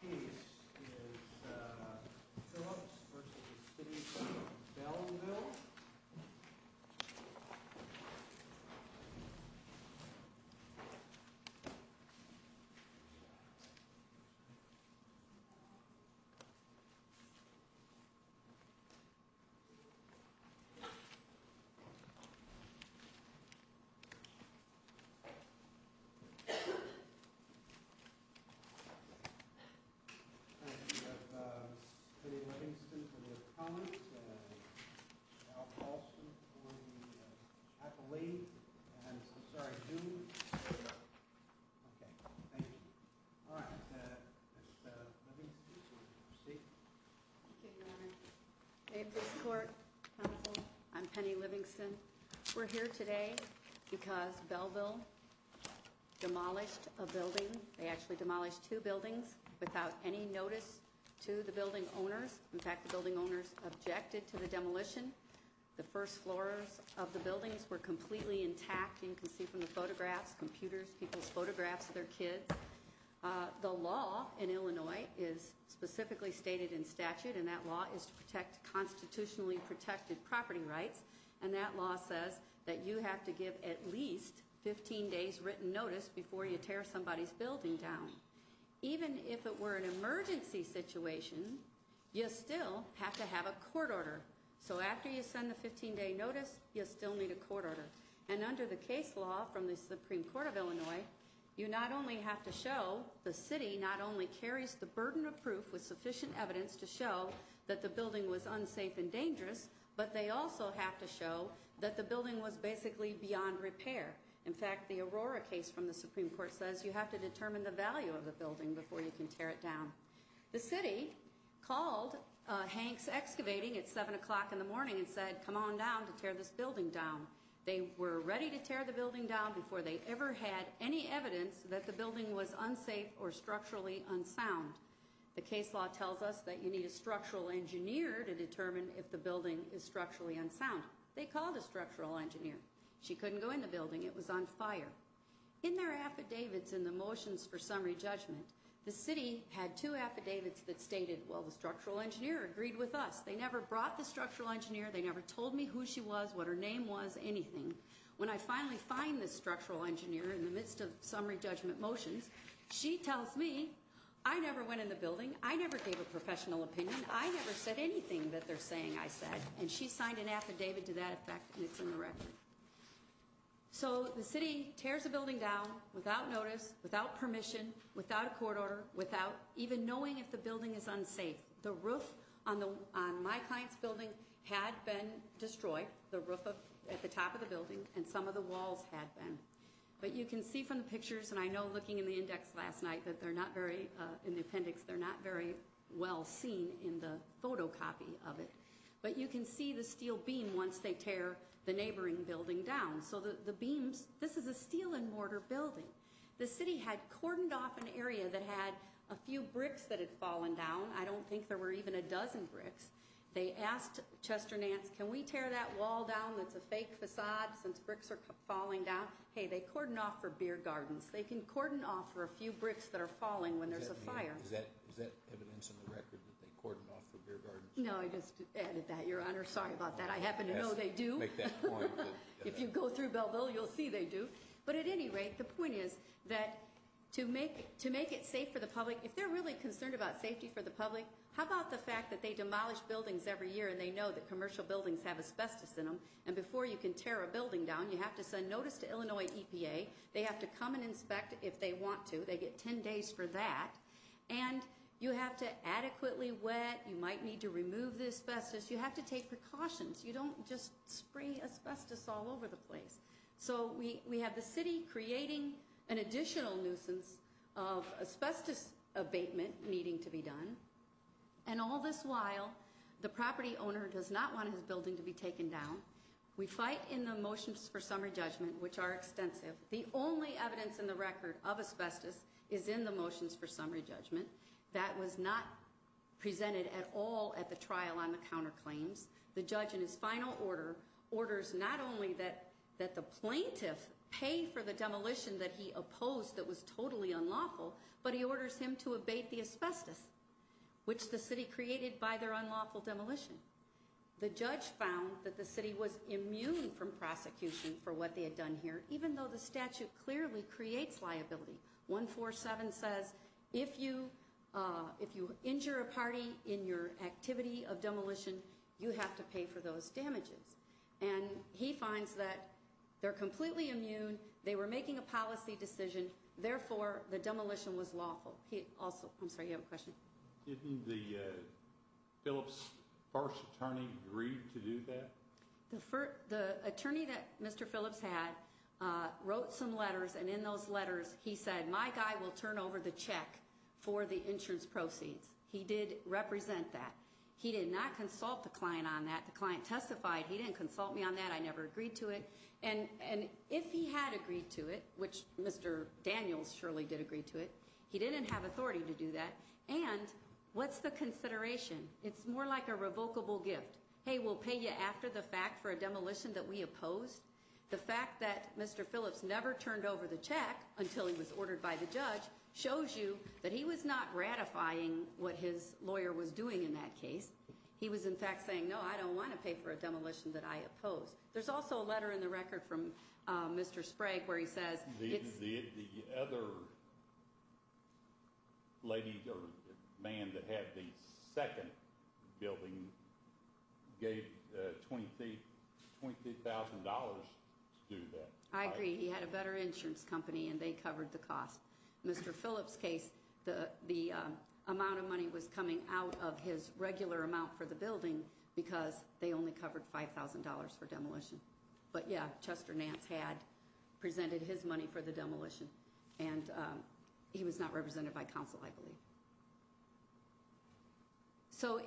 This is Phillips v. City of Belleville I'm Penny Livingston. We're here today because Belleville demolished a building. They actually demolished two buildings without any notice to the building owners. In fact, the building owners objected to the demolition. The first floors of the buildings were completely intact. You can see from the photographs, computers, people's photographs of their kids. The law in Illinois is specifically stated in statute and that law is to protect the building. If it were an emergency situation, you still have to have a court order. So after you send the 15-day notice, you still need a court order. And under the case law from the Supreme Court of Illinois, you not only have to show the city not only carries the burden of proof with sufficient evidence to show that the building was unsafe and dangerous, but they also have to show that the building was basically beyond repair. In fact, the Aurora case from the Supreme Court says you have to determine the value of the building before you can tear it down. The city called Hanks Excavating at 7 o'clock in the morning and said, come on down to tear this building down. They were ready to tear the building down before they ever had any evidence that the building was unsafe or structurally unsound. The case law tells us that you need a structural engineer to determine if the building is structurally unsound. They called a structural engineer. She couldn't go in the building. It was on fire. In their affidavits in the motions for summary judgment, the city had two affidavits that stated, well, the structural engineer agreed with us. They never brought the structural engineer. They never told me who she was, what her name was, anything. When I finally find the structural engineer in the midst of summary judgment motions, she tells me, I never went in the building. I never gave a professional opinion. I never said anything that they're saying I said. And she signed an affidavit to that effect. And it's in the record. So the city tears the building down without notice, without permission, without a court order, without even knowing if the building is unsafe. The roof on the on my client's building had been destroyed. The roof at the top of the building and some of the walls had been. But you can see from the pictures and I know looking in the index last night that they're not very in the appendix. They're not very well seen in the photocopy of it. But you can see the steel beam once they tear the neighboring building down so that the beams. This is a steel and mortar building. The city had cordoned off an area that had a few bricks that had fallen down. I don't think there were even a dozen bricks. They asked Chester Nance, can we tear that wall down? That's a fake facade since bricks are falling down. Hey, they cordoned off for beer gardens. They can cordon off for a few bricks that are falling when there's a fire. Is that evidence in the record that they cordoned off for beer gardens? No, I just added that, Your Honor. Sorry about that. I happen to know they do. If you go through Belleville, you'll see they do. But at any rate, the point is that to make to make it safe for the public, if they're really concerned about safety for the public, how about the fact that they demolish buildings every year and they know that commercial buildings have asbestos in them? And before you can tear a building down, you have to send notice to Illinois EPA. They have to come and inspect if they want to. They get 10 days for that. And you have to adequately wet. You might need to remove the asbestos. You have to take precautions. You don't just spray asbestos all over the place. So we have the city creating an additional nuisance of asbestos abatement needing to be done. And all this while, the property owner does not want his building to be taken down. We fight in the motions for summary judgment, which are extensive. The only evidence in the record of asbestos is in the motions for summary judgment. That was not presented at all at the trial on the counterclaims. The judge, in his final order, orders not only that the plaintiff pay for the demolition that he opposed that was totally unlawful, but he orders him to abate the asbestos, which the city created by their unlawful demolition. The judge found that the city was immune from prosecution for what they had done here, even though the statute clearly creates liability. 147 says if you injure a party in your activity of demolition, you have to pay for those damages. And he finds that they're completely immune. They were making a policy decision. Therefore, the demolition was lawful. I'm sorry, you have a question? Didn't the Phillips first attorney agree to do that? The attorney that Mr. Phillips had wrote some letters, and in those letters he said, my guy will turn over the check for the insurance proceeds. He did represent that. He did not consult the client on that. The client testified he didn't consult me on that. I never agreed to it. And if he had agreed to it, which Mr. Daniels surely did agree to it, he didn't have authority to do that. And what's the consideration? It's more like a revocable gift. Hey, we'll pay you after the fact for a demolition that we opposed. The fact that Mr. Phillips never turned over the check until he was ordered by the judge shows you that he was not ratifying what his lawyer was doing in that case. He was in fact saying, no, I don't want to pay for a demolition that I opposed. There's also a letter in the record from Mr. Sprague where he says it's- The other lady or man that had the second building gave $25,000 to do that. I agree. He had a better insurance company, and they covered the cost. In Mr. Phillips' case, the amount of money was coming out of his regular amount for the building because they only covered $5,000 for demolition. But yeah, Chester Nance had presented his money for the demolition. And he was not represented by counsel, I believe. So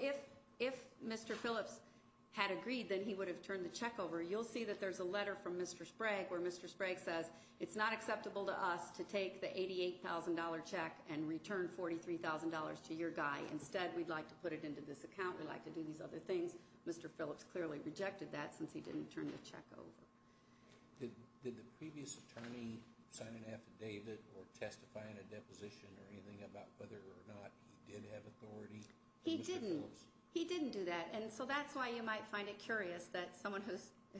if Mr. Phillips had agreed, then he would have turned the check over. You'll see that there's a letter from Mr. Sprague where Mr. Sprague says, it's not acceptable to us to take the $88,000 check and return $43,000 to your guy. Instead, we'd like to put it into this account. We'd like to do these other things. Mr. Phillips clearly rejected that since he didn't turn the check over. Did the previous attorney sign an affidavit or testify in a deposition or anything about whether or not he did have authority? He didn't. He didn't do that. And so that's why you might find it curious that someone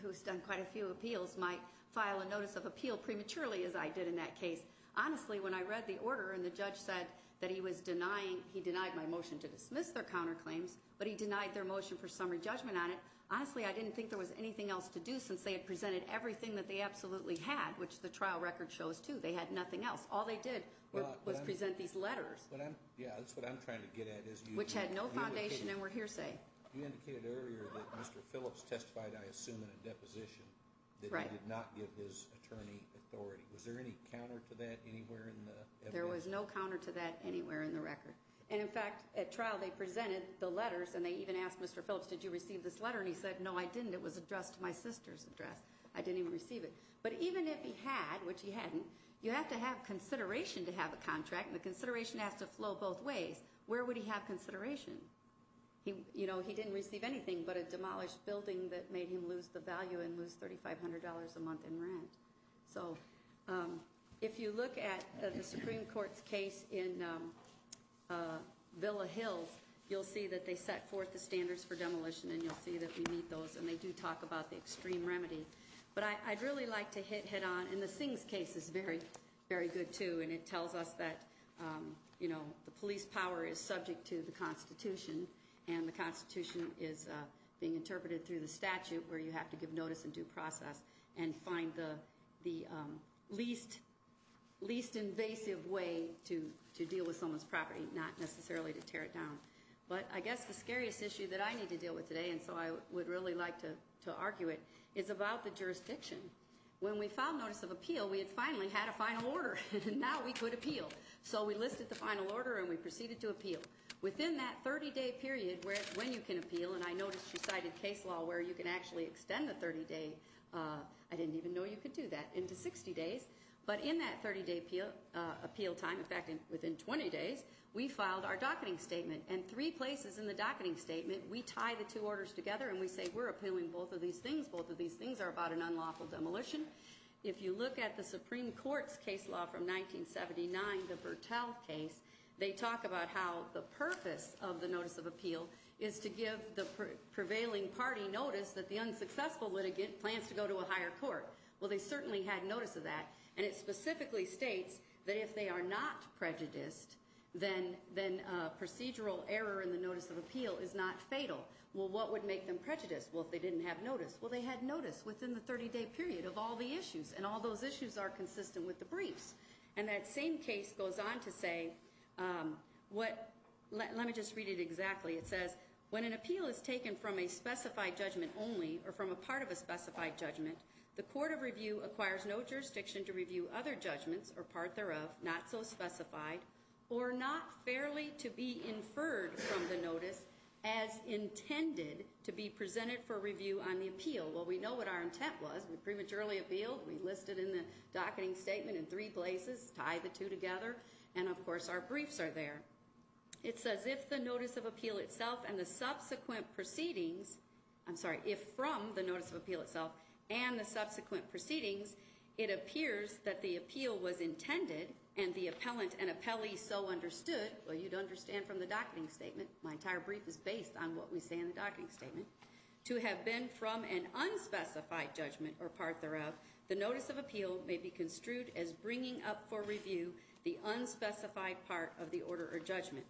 who's done quite a few appeals might file a notice of appeal prematurely, as I did in that case. Honestly, when I read the order and the judge said that he was denying, he denied my motion to dismiss their counterclaims, but he denied their motion for summary judgment on it, honestly, I didn't think there was anything else to do since they had presented everything that they absolutely had, which the trial record shows, too. They had nothing else. All they did was present these letters. Yeah, that's what I'm trying to get at. Which had no foundation and were hearsay. You indicated earlier that Mr. Phillips testified, I assume, in a deposition that he did not give his attorney authority. Was there any counter to that anywhere in the evidence? There was no counter to that anywhere in the record. And, in fact, at trial they presented the letters and they even asked Mr. Phillips, did you receive this letter, and he said, no, I didn't. It was addressed to my sister's address. I didn't even receive it. But even if he had, which he hadn't, you have to have consideration to have a contract, and the consideration has to flow both ways. Where would he have consideration? He didn't receive anything but a demolished building that made him lose the value and lose $3,500 a month in rent. So if you look at the Supreme Court's case in Villa Hills, you'll see that they set forth the standards for demolition and you'll see that we meet those and they do talk about the extreme remedy. But I'd really like to hit head on, and the Sings case is very good too, and it tells us that the police power is subject to the Constitution and the Constitution is being interpreted through the statute where you have to give notice and due process and find the least invasive way to deal with someone's property, not necessarily to tear it down. But I guess the scariest issue that I need to deal with today, and so I would really like to argue it, is about the jurisdiction. When we filed notice of appeal, we had finally had a final order, and now we could appeal. So we listed the final order and we proceeded to appeal. Within that 30-day period when you can appeal, and I noticed you cited case law where you can actually extend the 30-day. I didn't even know you could do that, into 60 days. But in that 30-day appeal time, in fact within 20 days, we filed our docketing statement. And three places in the docketing statement, we tie the two orders together and we say we're appealing both of these things. Both of these things are about an unlawful demolition. If you look at the Supreme Court's case law from 1979, the Bertall case, they talk about how the purpose of the notice of appeal is to give the prevailing party notice that the unsuccessful litigant plans to go to a higher court. Well, they certainly had notice of that. And it specifically states that if they are not prejudiced, then procedural error in the notice of appeal is not fatal. Well, what would make them prejudiced? Well, if they didn't have notice. Well, they had notice within the 30-day period of all the issues, and all those issues are consistent with the briefs. And that same case goes on to say what – let me just read it exactly. It says, when an appeal is taken from a specified judgment only or from a part of a specified judgment, the court of review acquires no jurisdiction to review other judgments or part thereof not so specified or not fairly to be inferred from the notice as intended to be presented for review on the appeal. Well, we know what our intent was. We prematurely appealed. We listed in the docketing statement in three places, tied the two together, and, of course, our briefs are there. It says, if the notice of appeal itself and the subsequent proceedings – I'm sorry, if from the notice of appeal itself and the subsequent proceedings, it appears that the appeal was intended and the appellant and appellee so understood – well, you'd understand from the docketing statement. My entire brief is based on what we say in the docketing statement – to have been from an unspecified judgment or part thereof, the notice of appeal may be construed as bringing up for review the unspecified part of the order or judgment.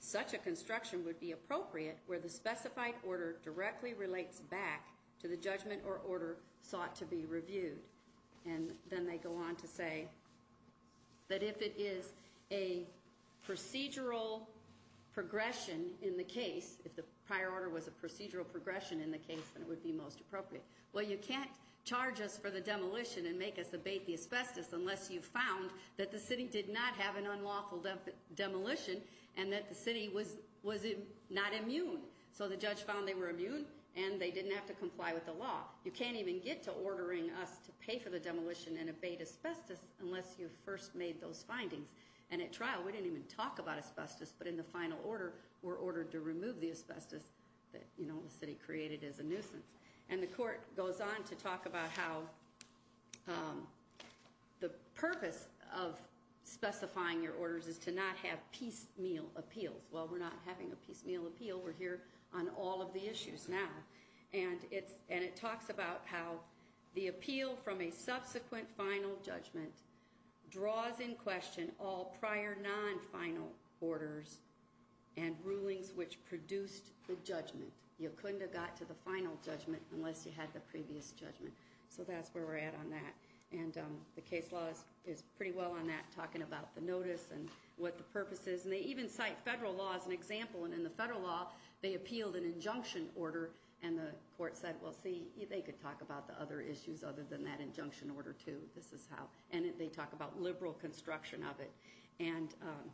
Such a construction would be appropriate where the specified order directly relates back to the judgment or order sought to be reviewed. And then they go on to say that if it is a procedural progression in the case, if the prior order was a procedural progression in the case, then it would be most appropriate. Well, you can't charge us for the demolition and make us abate the asbestos unless you found that the city did not have an unlawful demolition and that the city was not immune. So the judge found they were immune and they didn't have to comply with the law. You can't even get to ordering us to pay for the demolition and abate asbestos unless you first made those findings. And at trial, we didn't even talk about asbestos, but in the final order we're ordered to remove the asbestos that the city created as a nuisance. And the court goes on to talk about how the purpose of specifying your orders is to not have piecemeal appeals. Well, we're not having a piecemeal appeal. We're here on all of the issues now. And it talks about how the appeal from a subsequent final judgment draws in question all prior non-final orders and rulings which produced the judgment. You couldn't have got to the final judgment unless you had the previous judgment. So that's where we're at on that. And the case law is pretty well on that, talking about the notice and what the purpose is. And they even cite federal law as an example. And in the federal law, they appealed an injunction order, and the court said, well, see, they could talk about the other issues other than that injunction order too. This is how. And they talk about liberal construction of it. And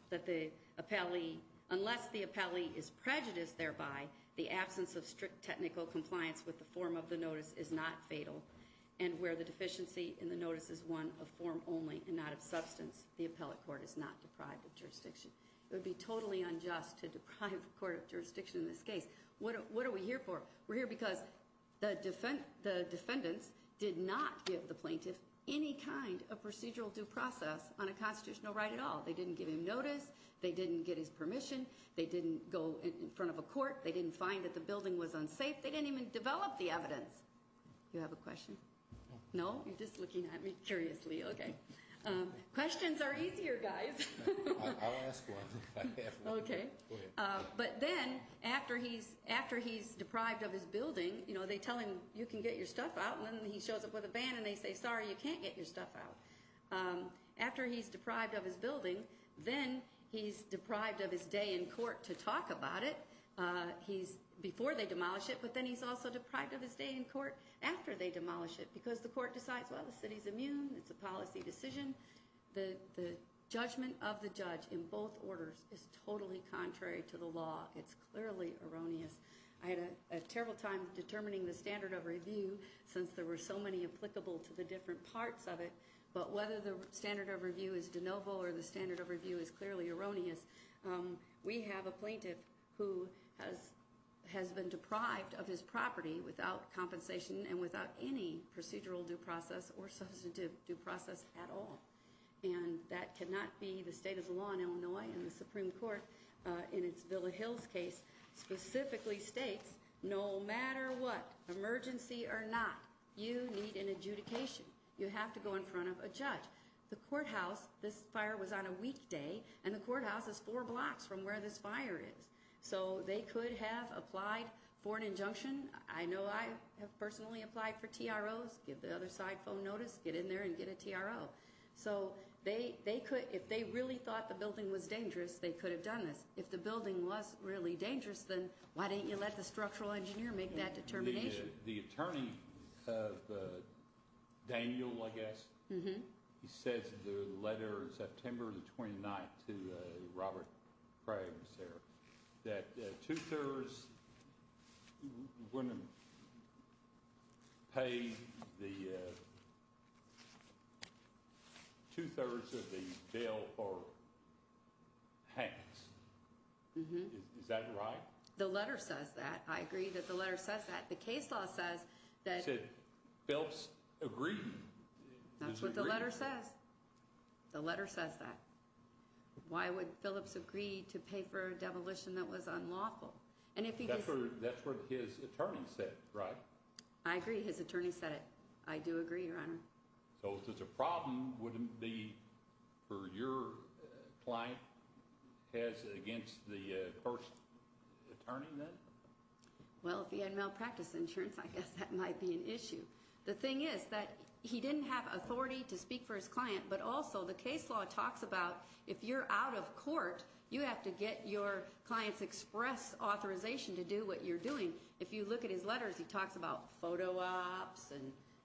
that the appellee, unless the appellee is prejudiced thereby, the absence of strict technical compliance with the form of the notice is not fatal. And where the deficiency in the notice is one of form only and not of substance, the appellate court is not deprived of jurisdiction. It would be totally unjust to deprive the court of jurisdiction in this case. What are we here for? We're here because the defendants did not give the plaintiff any kind of procedural due process on a constitutional right at all. They didn't give him notice. They didn't get his permission. They didn't go in front of a court. They didn't find that the building was unsafe. They didn't even develop the evidence. Do you have a question? No? You're just looking at me curiously. Okay. Questions are easier, guys. I'll ask one if I have one. Okay. Go ahead. But then after he's deprived of his building, you know, they tell him you can get your stuff out. And then he shows up with a ban and they say, sorry, you can't get your stuff out. After he's deprived of his building, then he's deprived of his day in court to talk about it before they demolish it. But then he's also deprived of his day in court after they demolish it because the court decides, well, the city's immune. It's a policy decision. The judgment of the judge in both orders is totally contrary to the law. It's clearly erroneous. I had a terrible time determining the standard of review since there were so many applicable to the different parts of it. But whether the standard of review is de novo or the standard of review is clearly erroneous, we have a plaintiff who has been deprived of his property without compensation and without any procedural due process or substantive due process at all. And that cannot be the state of the law in Illinois and the Supreme Court in its Villa Hills case specifically states no matter what, emergency or not, you need an adjudication. You have to go in front of a judge. The courthouse, this fire was on a weekday, and the courthouse is four blocks from where this fire is. So they could have applied for an injunction. I know I have personally applied for TROs. Give the other side phone notice. Get in there and get a TRO. So they could, if they really thought the building was dangerous, they could have done this. If the building was really dangerous, then why didn't you let the structural engineer make that determination? The attorney, Daniel, I guess, he says in the letter September the 29th to Robert Craig, Sarah, that two-thirds wouldn't pay the two-thirds of the bill for Hanks. Is that right? The letter says that. I agree that the letter says that. The case law says that. It said Phillips agreed. That's what the letter says. The letter says that. Why would Phillips agree to pay for a demolition that was unlawful? And if he doesn't. That's what his attorney said, right? I agree. His attorney said it. I do agree, Your Honor. So if there's a problem, wouldn't it be for your client has against the first attorney then? Well, if he had malpractice insurance, I guess that might be an issue. The thing is that he didn't have authority to speak for his client, but also the case law talks about if you're out of court, you have to get your client's express authorization to do what you're doing. If you look at his letters, he talks about photo ops and,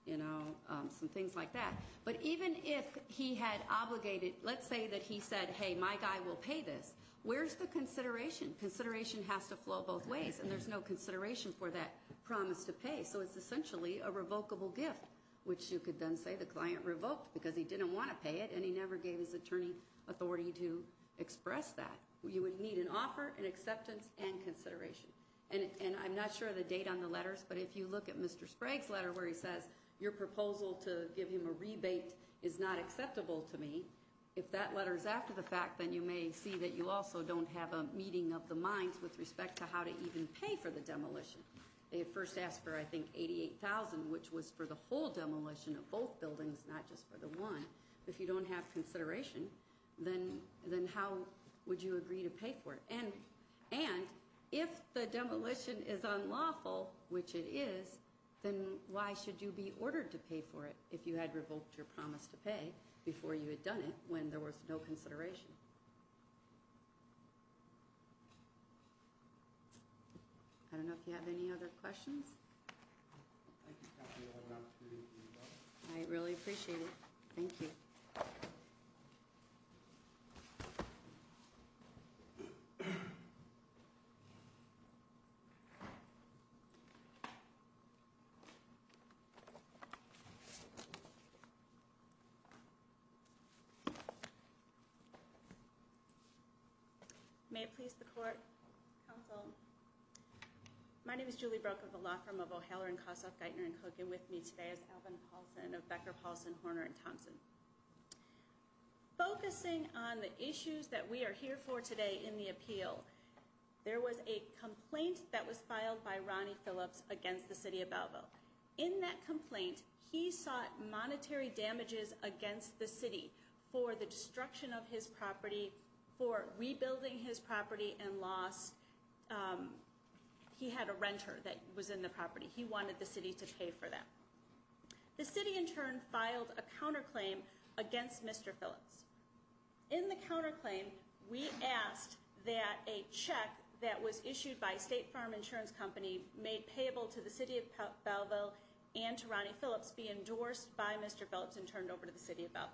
you know, some things like that. But even if he had obligated, let's say that he said, hey, my guy will pay this, where's the consideration? Consideration has to flow both ways, and there's no consideration for that promise to pay. So it's essentially a revocable gift, which you could then say the client revoked because he didn't want to pay it, and he never gave his attorney authority to express that. You would need an offer, an acceptance, and consideration. And I'm not sure of the date on the letters, but if you look at Mr. Sprague's letter where he says your proposal to give him a rebate is not acceptable to me, if that letter is after the fact, then you may see that you also don't have a meeting of the minds with respect to how to even pay for the demolition. They had first asked for, I think, $88,000, which was for the whole demolition of both buildings, not just for the one. If you don't have consideration, then how would you agree to pay for it? And if the demolition is unlawful, which it is, then why should you be ordered to pay for it if you had revoked your promise to pay before you had done it when there was no consideration? I don't know if you have any other questions. I really appreciate it. Thank you. May it please the court, counsel. My name is Julie Broeck of the law firm of O'Halloran, Kossoff, Geithner, and Cook. And with me today is Alvin Paulson of Becker, Paulson, Horner, and Thompson. Focusing on the issues that we are here for today in the appeal, there was a complaint that was filed by Ronnie Phillips against the city of Balboa. In that complaint, he sought monetary damages against the city for the destruction of his property, for rebuilding his property and loss. He had a renter that was in the property. He wanted the city to pay for that. The city, in turn, filed a counterclaim against Mr. Phillips. In the counterclaim, we asked that a check that was issued by State Farm Insurance Company made payable to the city of Balboa and to Ronnie Phillips be endorsed by Mr. Phillips and turned over to the city of Balboa.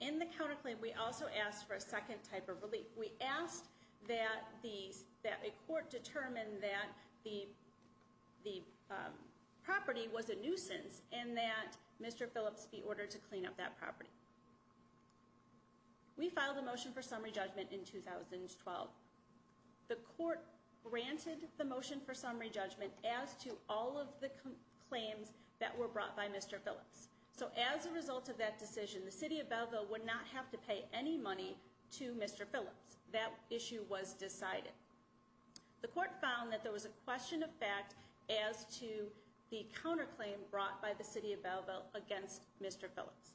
In the counterclaim, we also asked for a second type of relief. We asked that a court determine that the property was a nuisance and that Mr. Phillips be ordered to clean up that property. We filed a motion for summary judgment in 2012. The court granted the motion for summary judgment as to all of the claims that were brought by Mr. Phillips. As a result of that decision, the city of Balboa would not have to pay any money to Mr. Phillips. That issue was decided. The court found that there was a question of fact as to the counterclaim brought by the city of Balboa against Mr. Phillips.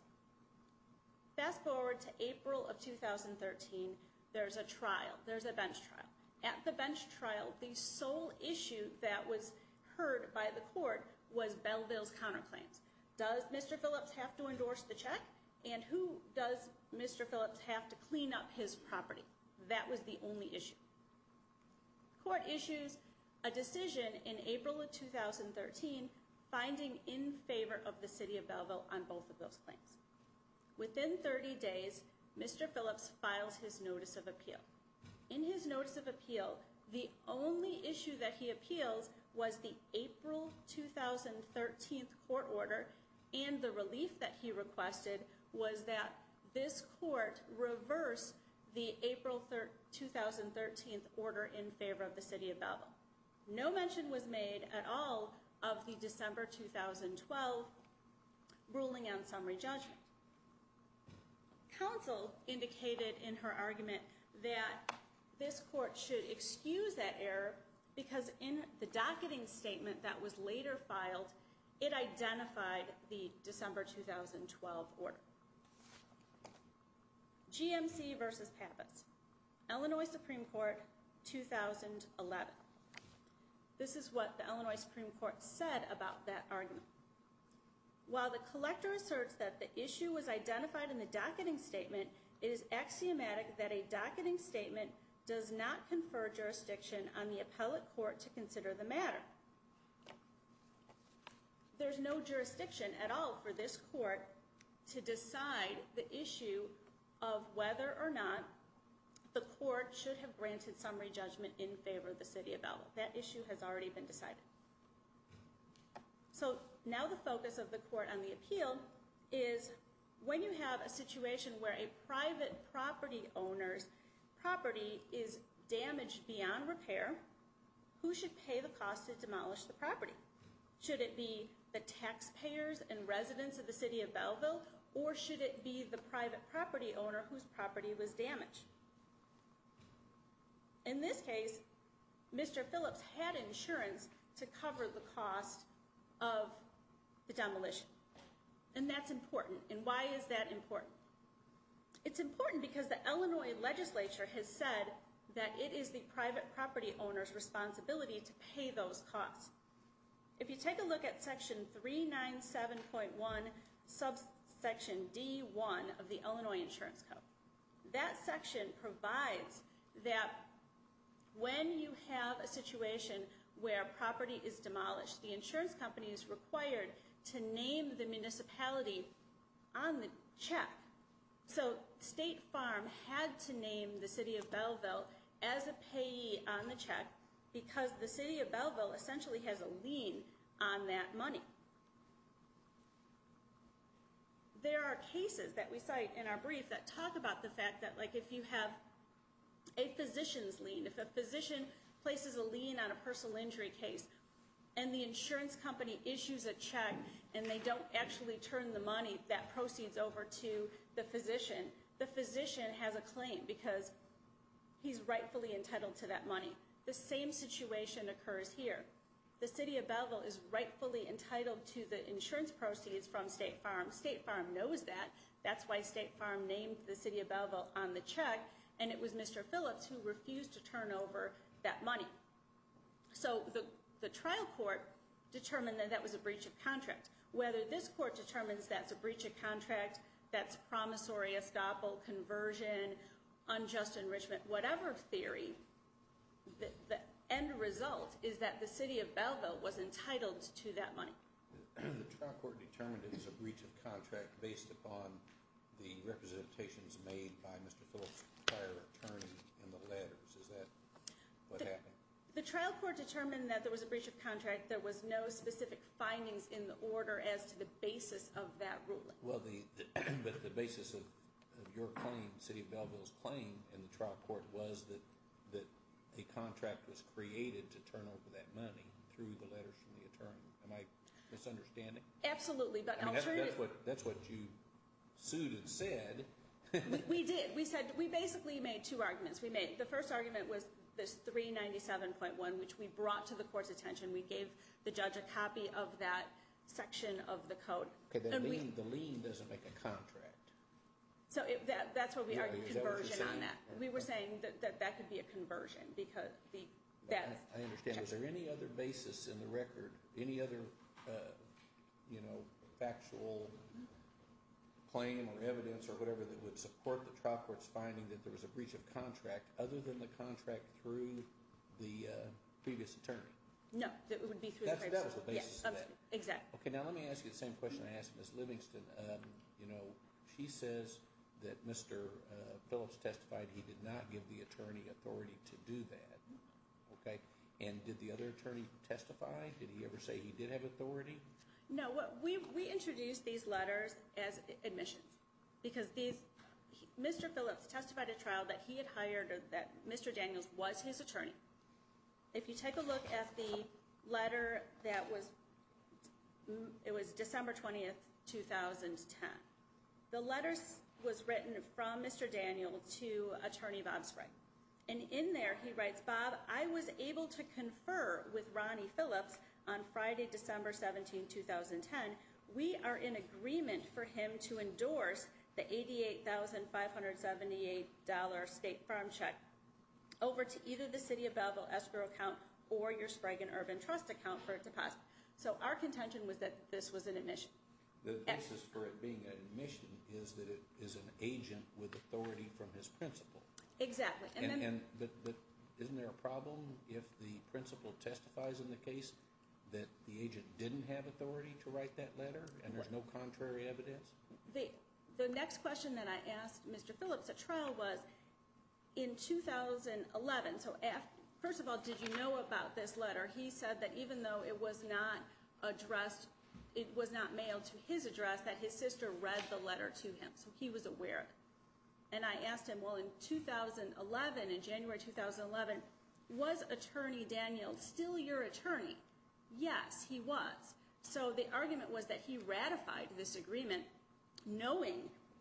Fast forward to April of 2013. There's a trial. There's a bench trial. At the bench trial, the sole issue that was heard by the court was Balboa's counterclaims. Does Mr. Phillips have to endorse the check? And who does Mr. Phillips have to clean up his property? That was the only issue. The court issues a decision in April of 2013 finding in favor of the city of Balboa on both of those claims. Within 30 days, Mr. Phillips files his notice of appeal. In his notice of appeal, the only issue that he appealed was the April 2013 court order, and the relief that he requested was that this court reverse the April 2013 order in favor of the city of Balboa. No mention was made at all of the December 2012 ruling on summary judgment. Counsel indicated in her argument that this court should excuse that error because in the docketing statement that was later filed, it identified the December 2012 order. GMC versus Pappas. Illinois Supreme Court, 2011. This is what the Illinois Supreme Court said about that argument. While the collector asserts that the issue was identified in the docketing statement, it is axiomatic that a docketing statement does not confer jurisdiction on the appellate court to consider the matter. There's no jurisdiction at all for this court to decide the issue of whether or not the court should have granted summary judgment in favor of the city of Balboa. That issue has already been decided. So now the focus of the court on the appeal is when you have a situation where a private property owner's property is damaged beyond repair, who should pay the cost to demolish the property? Should it be the taxpayers and residents of the city of Balboa, or should it be the private property owner whose property was damaged? In this case, Mr. Phillips had insurance to cover the cost of the demolition. And that's important. And why is that important? It's important because the Illinois legislature has said that it is the private property owner's responsibility to pay those costs. If you take a look at section 397.1, subsection D1 of the Illinois Insurance Code, that section provides that when you have a situation where property is demolished, the insurance company is required to name the municipality on the check. So State Farm had to name the city of Balboa as a payee on the check because the city of Balboa essentially has a lien on that money. There are cases that we cite in our brief that talk about the fact that if you have a physician's lien, if a physician places a lien on a personal injury case, and the insurance company issues a check and they don't actually turn the money that proceeds over to the physician, the physician has a claim because he's rightfully entitled to that money. The same situation occurs here. The city of Balboa is rightfully entitled to the insurance proceeds from State Farm. State Farm knows that. That's why State Farm named the city of Balboa on the check, and it was Mr. Phillips who refused to turn over that money. So the trial court determined that that was a breach of contract. Whether this court determines that's a breach of contract, that's promissory estoppel, conversion, unjust enrichment, whatever theory, the end result is that the city of Balboa was entitled to that money. The trial court determined it was a breach of contract based upon the representations made by Mr. Phillips' prior attorney in the letters. Is that what happened? The trial court determined that there was a breach of contract. There was no specific findings in the order as to the basis of that ruling. Well, the basis of your claim, city of Balboa's claim in the trial court, was that a contract was created to turn over that money through the letters from the attorney. Am I misunderstanding? Absolutely. That's what you sued and said. We did. We said we basically made two arguments. We made the first argument was this 397.1, which we brought to the court's attention. We gave the judge a copy of that section of the code. The lien doesn't make a contract. That's what we argued, conversion on that. We were saying that that could be a conversion. I understand. Was there any other basis in the record, any other factual claim or evidence or whatever that would support the trial court's finding that there was a breach of contract other than the contract through the previous attorney? No, that it would be through the previous attorney. That was the basis of that. Exactly. Okay, now let me ask you the same question I asked Ms. Livingston. You know, she says that Mr. Phillips testified he did not give the attorney authority to do that. Okay. And did the other attorney testify? Did he ever say he did have authority? No. We introduced these letters as admissions because Mr. Phillips testified at trial that he had hired or that Mr. Daniels was his attorney. If you take a look at the letter that was, it was December 20, 2010. The letter was written from Mr. Daniels to Attorney Bob Sprague. And in there he writes, Bob, I was able to confer with Ronnie Phillips on Friday, December 17, 2010. We are in agreement for him to endorse the $88,578 state farm check over to either the city of Belleville escrow account or your Sprague and Urban Trust account for a deposit. So our contention was that this was an admission. The basis for it being an admission is that it is an agent with authority from his principal. Exactly. Isn't there a problem if the principal testifies in the case that the agent didn't have authority to write that letter and there's no contrary evidence? The next question that I asked Mr. Phillips at trial was, in 2011, so first of all, did you know about this letter? He said that even though it was not addressed, it was not mailed to his address, that his sister read the letter to him. So he was aware. And I asked him, well, in 2011, in January 2011, was Attorney Daniels still your attorney? Yes, he was. So the argument was that he ratified this agreement knowing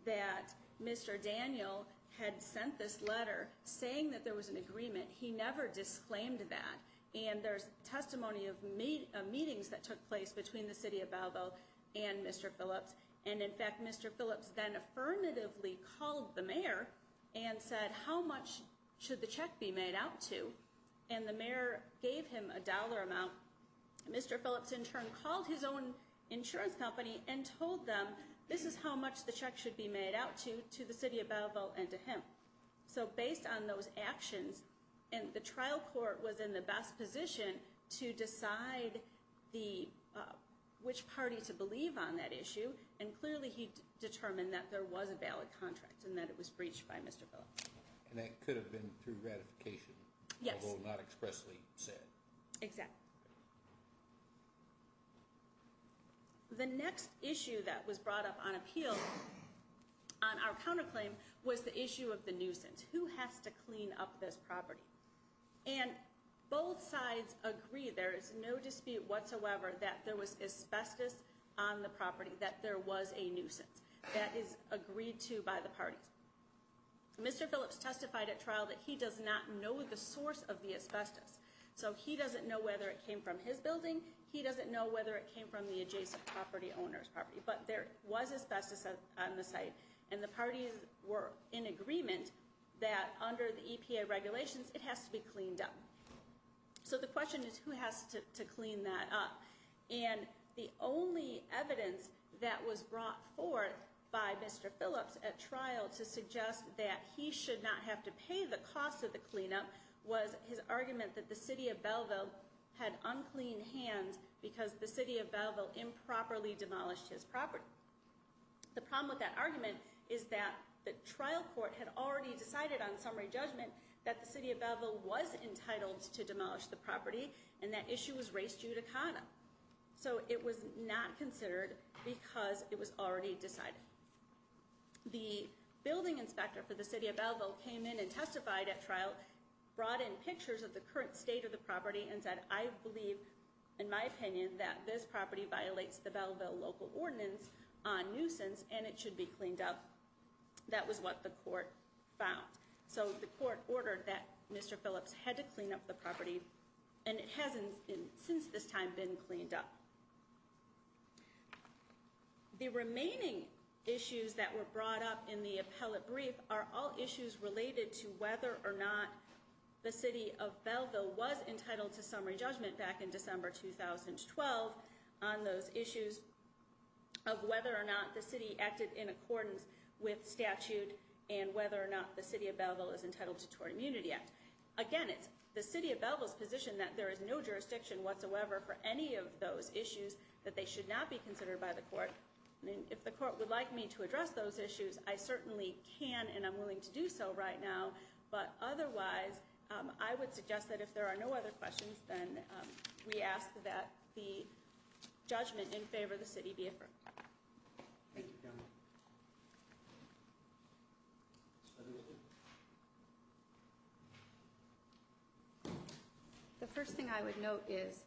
that Mr. Daniel had sent this letter saying that there was an agreement. He never disclaimed that. And there's testimony of meetings that took place between the city of Belleville and Mr. Phillips. And, in fact, Mr. Phillips then affirmatively called the mayor and said, how much should the check be made out to? And the mayor gave him a dollar amount. Mr. Phillips, in turn, called his own insurance company and told them, this is how much the check should be made out to, to the city of Belleville and to him. So based on those actions, and the trial court was in the best position to decide which party to believe on that issue, and clearly he determined that there was a valid contract and that it was breached by Mr. Phillips. And that could have been through ratification. Yes. Although not expressly said. Exactly. The next issue that was brought up on appeal, on our counterclaim, was the issue of the nuisance. Who has to clean up this property? And both sides agree, there is no dispute whatsoever that there was asbestos on the property, that there was a nuisance. That is agreed to by the parties. Mr. Phillips testified at trial that he does not know the source of the asbestos. So he doesn't know whether it came from his building. He doesn't know whether it came from the adjacent property owner's property. But there was asbestos on the site. And the parties were in agreement that under the EPA regulations, it has to be cleaned up. So the question is, who has to clean that up? And the only evidence that was brought forth by Mr. Phillips at trial to suggest that he should not have to pay the cost of the cleanup was his argument that the City of Belleville had unclean hands because the City of Belleville improperly demolished his property. The problem with that argument is that the trial court had already decided on summary judgment that the City of Belleville was entitled to demolish the property. And that issue was res judicata. So it was not considered because it was already decided. The building inspector for the City of Belleville came in and testified at trial, brought in pictures of the current state of the property and said, I believe, in my opinion, that this property violates the Belleville local ordinance on nuisance and it should be cleaned up. That was what the court found. So the court ordered that Mr. Phillips had to clean up the property. And it hasn't since this time been cleaned up. The remaining issues that were brought up in the appellate brief are all issues related to whether or not the City of Belleville was entitled to summary judgment back in December 2012 on those issues of whether or not the City acted in accordance with statute and whether or not the City of Belleville is entitled to Tour Immunity Act. Again, it's the City of Belleville's position that there is no jurisdiction whatsoever for any of those issues that they should not be considered by the court. If the court would like me to address those issues, I certainly can and I'm willing to do so right now. But otherwise, I would suggest that if there are no other questions, then we ask that the judgment in favor of the city be affirmed. The first thing I would note is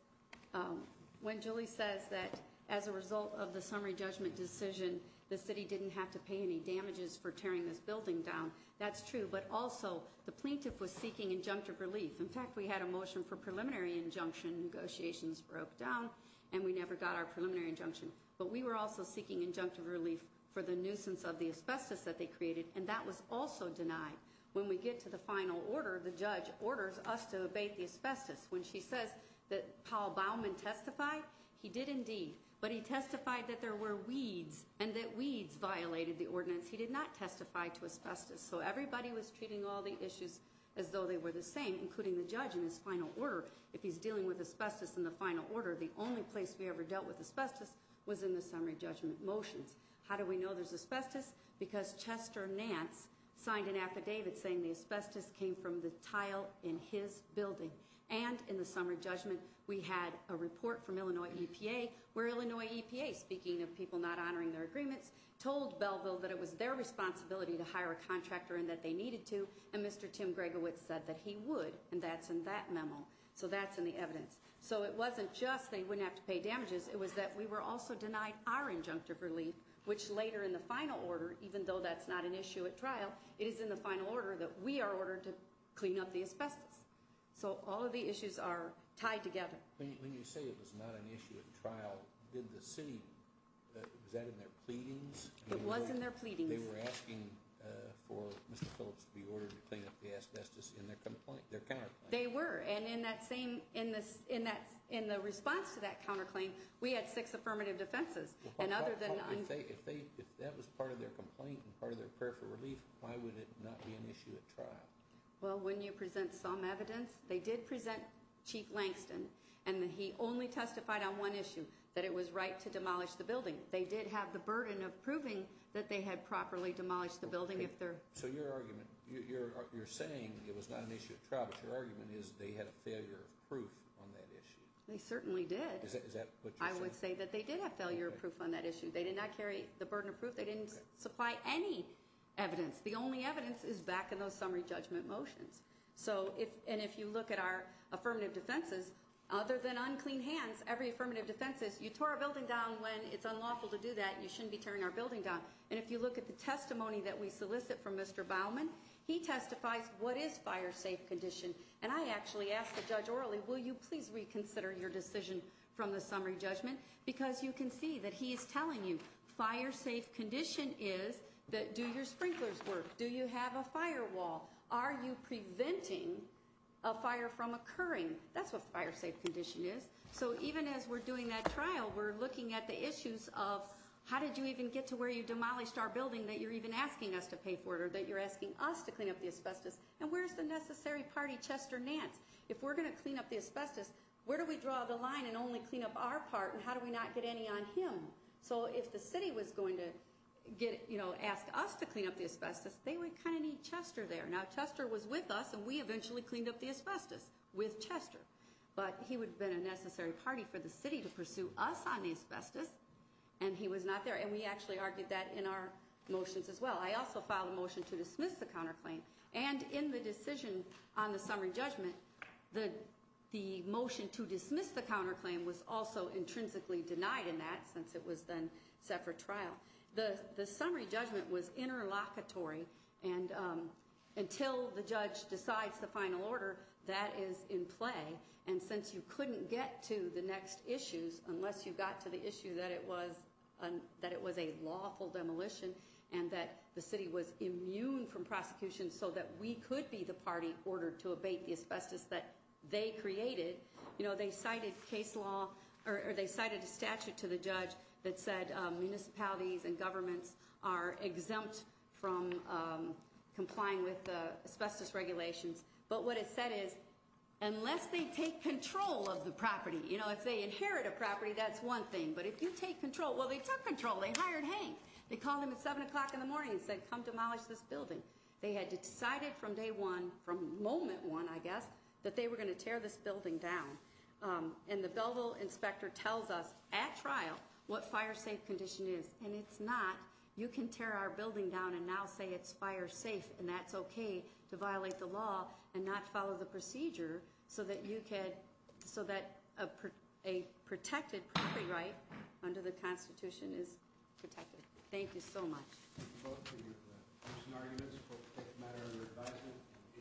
when Julie says that as a result of the summary judgment decision, the city didn't have to pay any damages for tearing this building down. That's true, but also the plaintiff was seeking injunctive relief. In fact, we had a motion for preliminary injunction. Negotiations broke down and we never got our preliminary injunction. But we were also seeking injunctive relief for the nuisance of the asbestos that they created. And that was also denied. When we get to the final order, the judge orders us to abate the asbestos. When she says that Paul Baumann testified, he did indeed. But he testified that there were weeds and that weeds violated the ordinance. He did not testify to asbestos. So everybody was treating all the issues as though they were the same, including the judge in his final order. If he's dealing with asbestos in the final order, the only place we ever dealt with asbestos was in the summary judgment motions. How do we know there's asbestos? Because Chester Nance signed an affidavit saying the asbestos came from the tile in his building. And in the summary judgment, we had a report from Illinois EPA where Illinois EPA, speaking of people not honoring their agreements, told Belleville that it was their responsibility to hire a contractor and that they needed to. And Mr. Tim Gregowitz said that he would. And that's in that memo. So that's in the evidence. So it wasn't just they wouldn't have to pay damages. It was that we were also denied our injunctive relief, which later in the final order, even though that's not an issue at trial, it is in the final order that we are ordered to clean up the asbestos. So all of the issues are tied together. When you say it was not an issue at trial, did the city, was that in their pleadings? It was in their pleadings. They were asking for Mr. Phillips to be ordered to clean up the asbestos in their complaint, their counterclaim. They were. And in that same, in the response to that counterclaim, we had six affirmative defenses. And other than... If that was part of their complaint and part of their prayer for relief, why would it not be an issue at trial? Well, when you present some evidence, they did present Chief Langston, and he only testified on one issue, that it was right to demolish the building. They did have the burden of proving that they had properly demolished the building. So your argument, you're saying it was not an issue at trial, but your argument is they had a failure of proof on that issue. They certainly did. Is that what you're saying? I would say that they did have failure of proof on that issue. They did not carry the burden of proof. They didn't supply any evidence. The only evidence is back in those summary judgment motions. So if, and if you look at our affirmative defenses, other than unclean hands, every affirmative defense is, you tore our building down when it's unlawful to do that, you shouldn't be tearing our building down. And if you look at the testimony that we solicit from Mr. Baumann, he testifies, what is fire safe condition? And I actually asked the judge orally, will you please reconsider your decision from the summary judgment? Because you can see that he is telling you fire safe condition is that do your sprinklers work? Do you have a firewall? Are you preventing a fire from occurring? That's what fire safe condition is. So even as we're doing that trial, we're looking at the issues of how did you even get to where you demolished our building that you're even asking us to pay for it, or that you're asking us to clean up the asbestos. And where's the necessary party, Chester Nance? If we're going to clean up the asbestos, where do we draw the line and only clean up our part, and how do we not get any on him? So if the city was going to get, you know, ask us to clean up the asbestos, they would kind of need Chester there. Now, Chester was with us, and we eventually cleaned up the asbestos with Chester. But he would have been a necessary party for the city to pursue us on the asbestos, and he was not there. And we actually argued that in our motions as well. I also filed a motion to dismiss the counterclaim. And in the decision on the summary judgment, the motion to dismiss the counterclaim was also intrinsically denied in that since it was then set for trial. The summary judgment was interlocutory, and until the judge decides the final order, that is in play. And since you couldn't get to the next issues unless you got to the issue that it was a lawful demolition, and that the city was immune from prosecution so that we could be the party ordered to abate the asbestos that they created. You know, they cited case law, or they cited a statute to the judge that said municipalities and governments are exempt from complying with asbestos regulations. But what it said is, unless they take control of the property, you know, if they inherit a property, that's one thing. But if you take control, well, they took control. They hired Hank. They called him at 7 o'clock in the morning and said, come demolish this building. They had decided from day one, from moment one, I guess, that they were going to tear this building down. And the Belville inspector tells us at trial what fire safe condition is. And it's not. You can tear our building down and now say it's fire safe. And that's okay to violate the law and not follow the procedure so that you can, so that a protected property right under the Constitution is protected. Thank you so much. Thank you both for your briefs and arguments, both the matter of your advisement and the issuance of the decision. Thank you very much.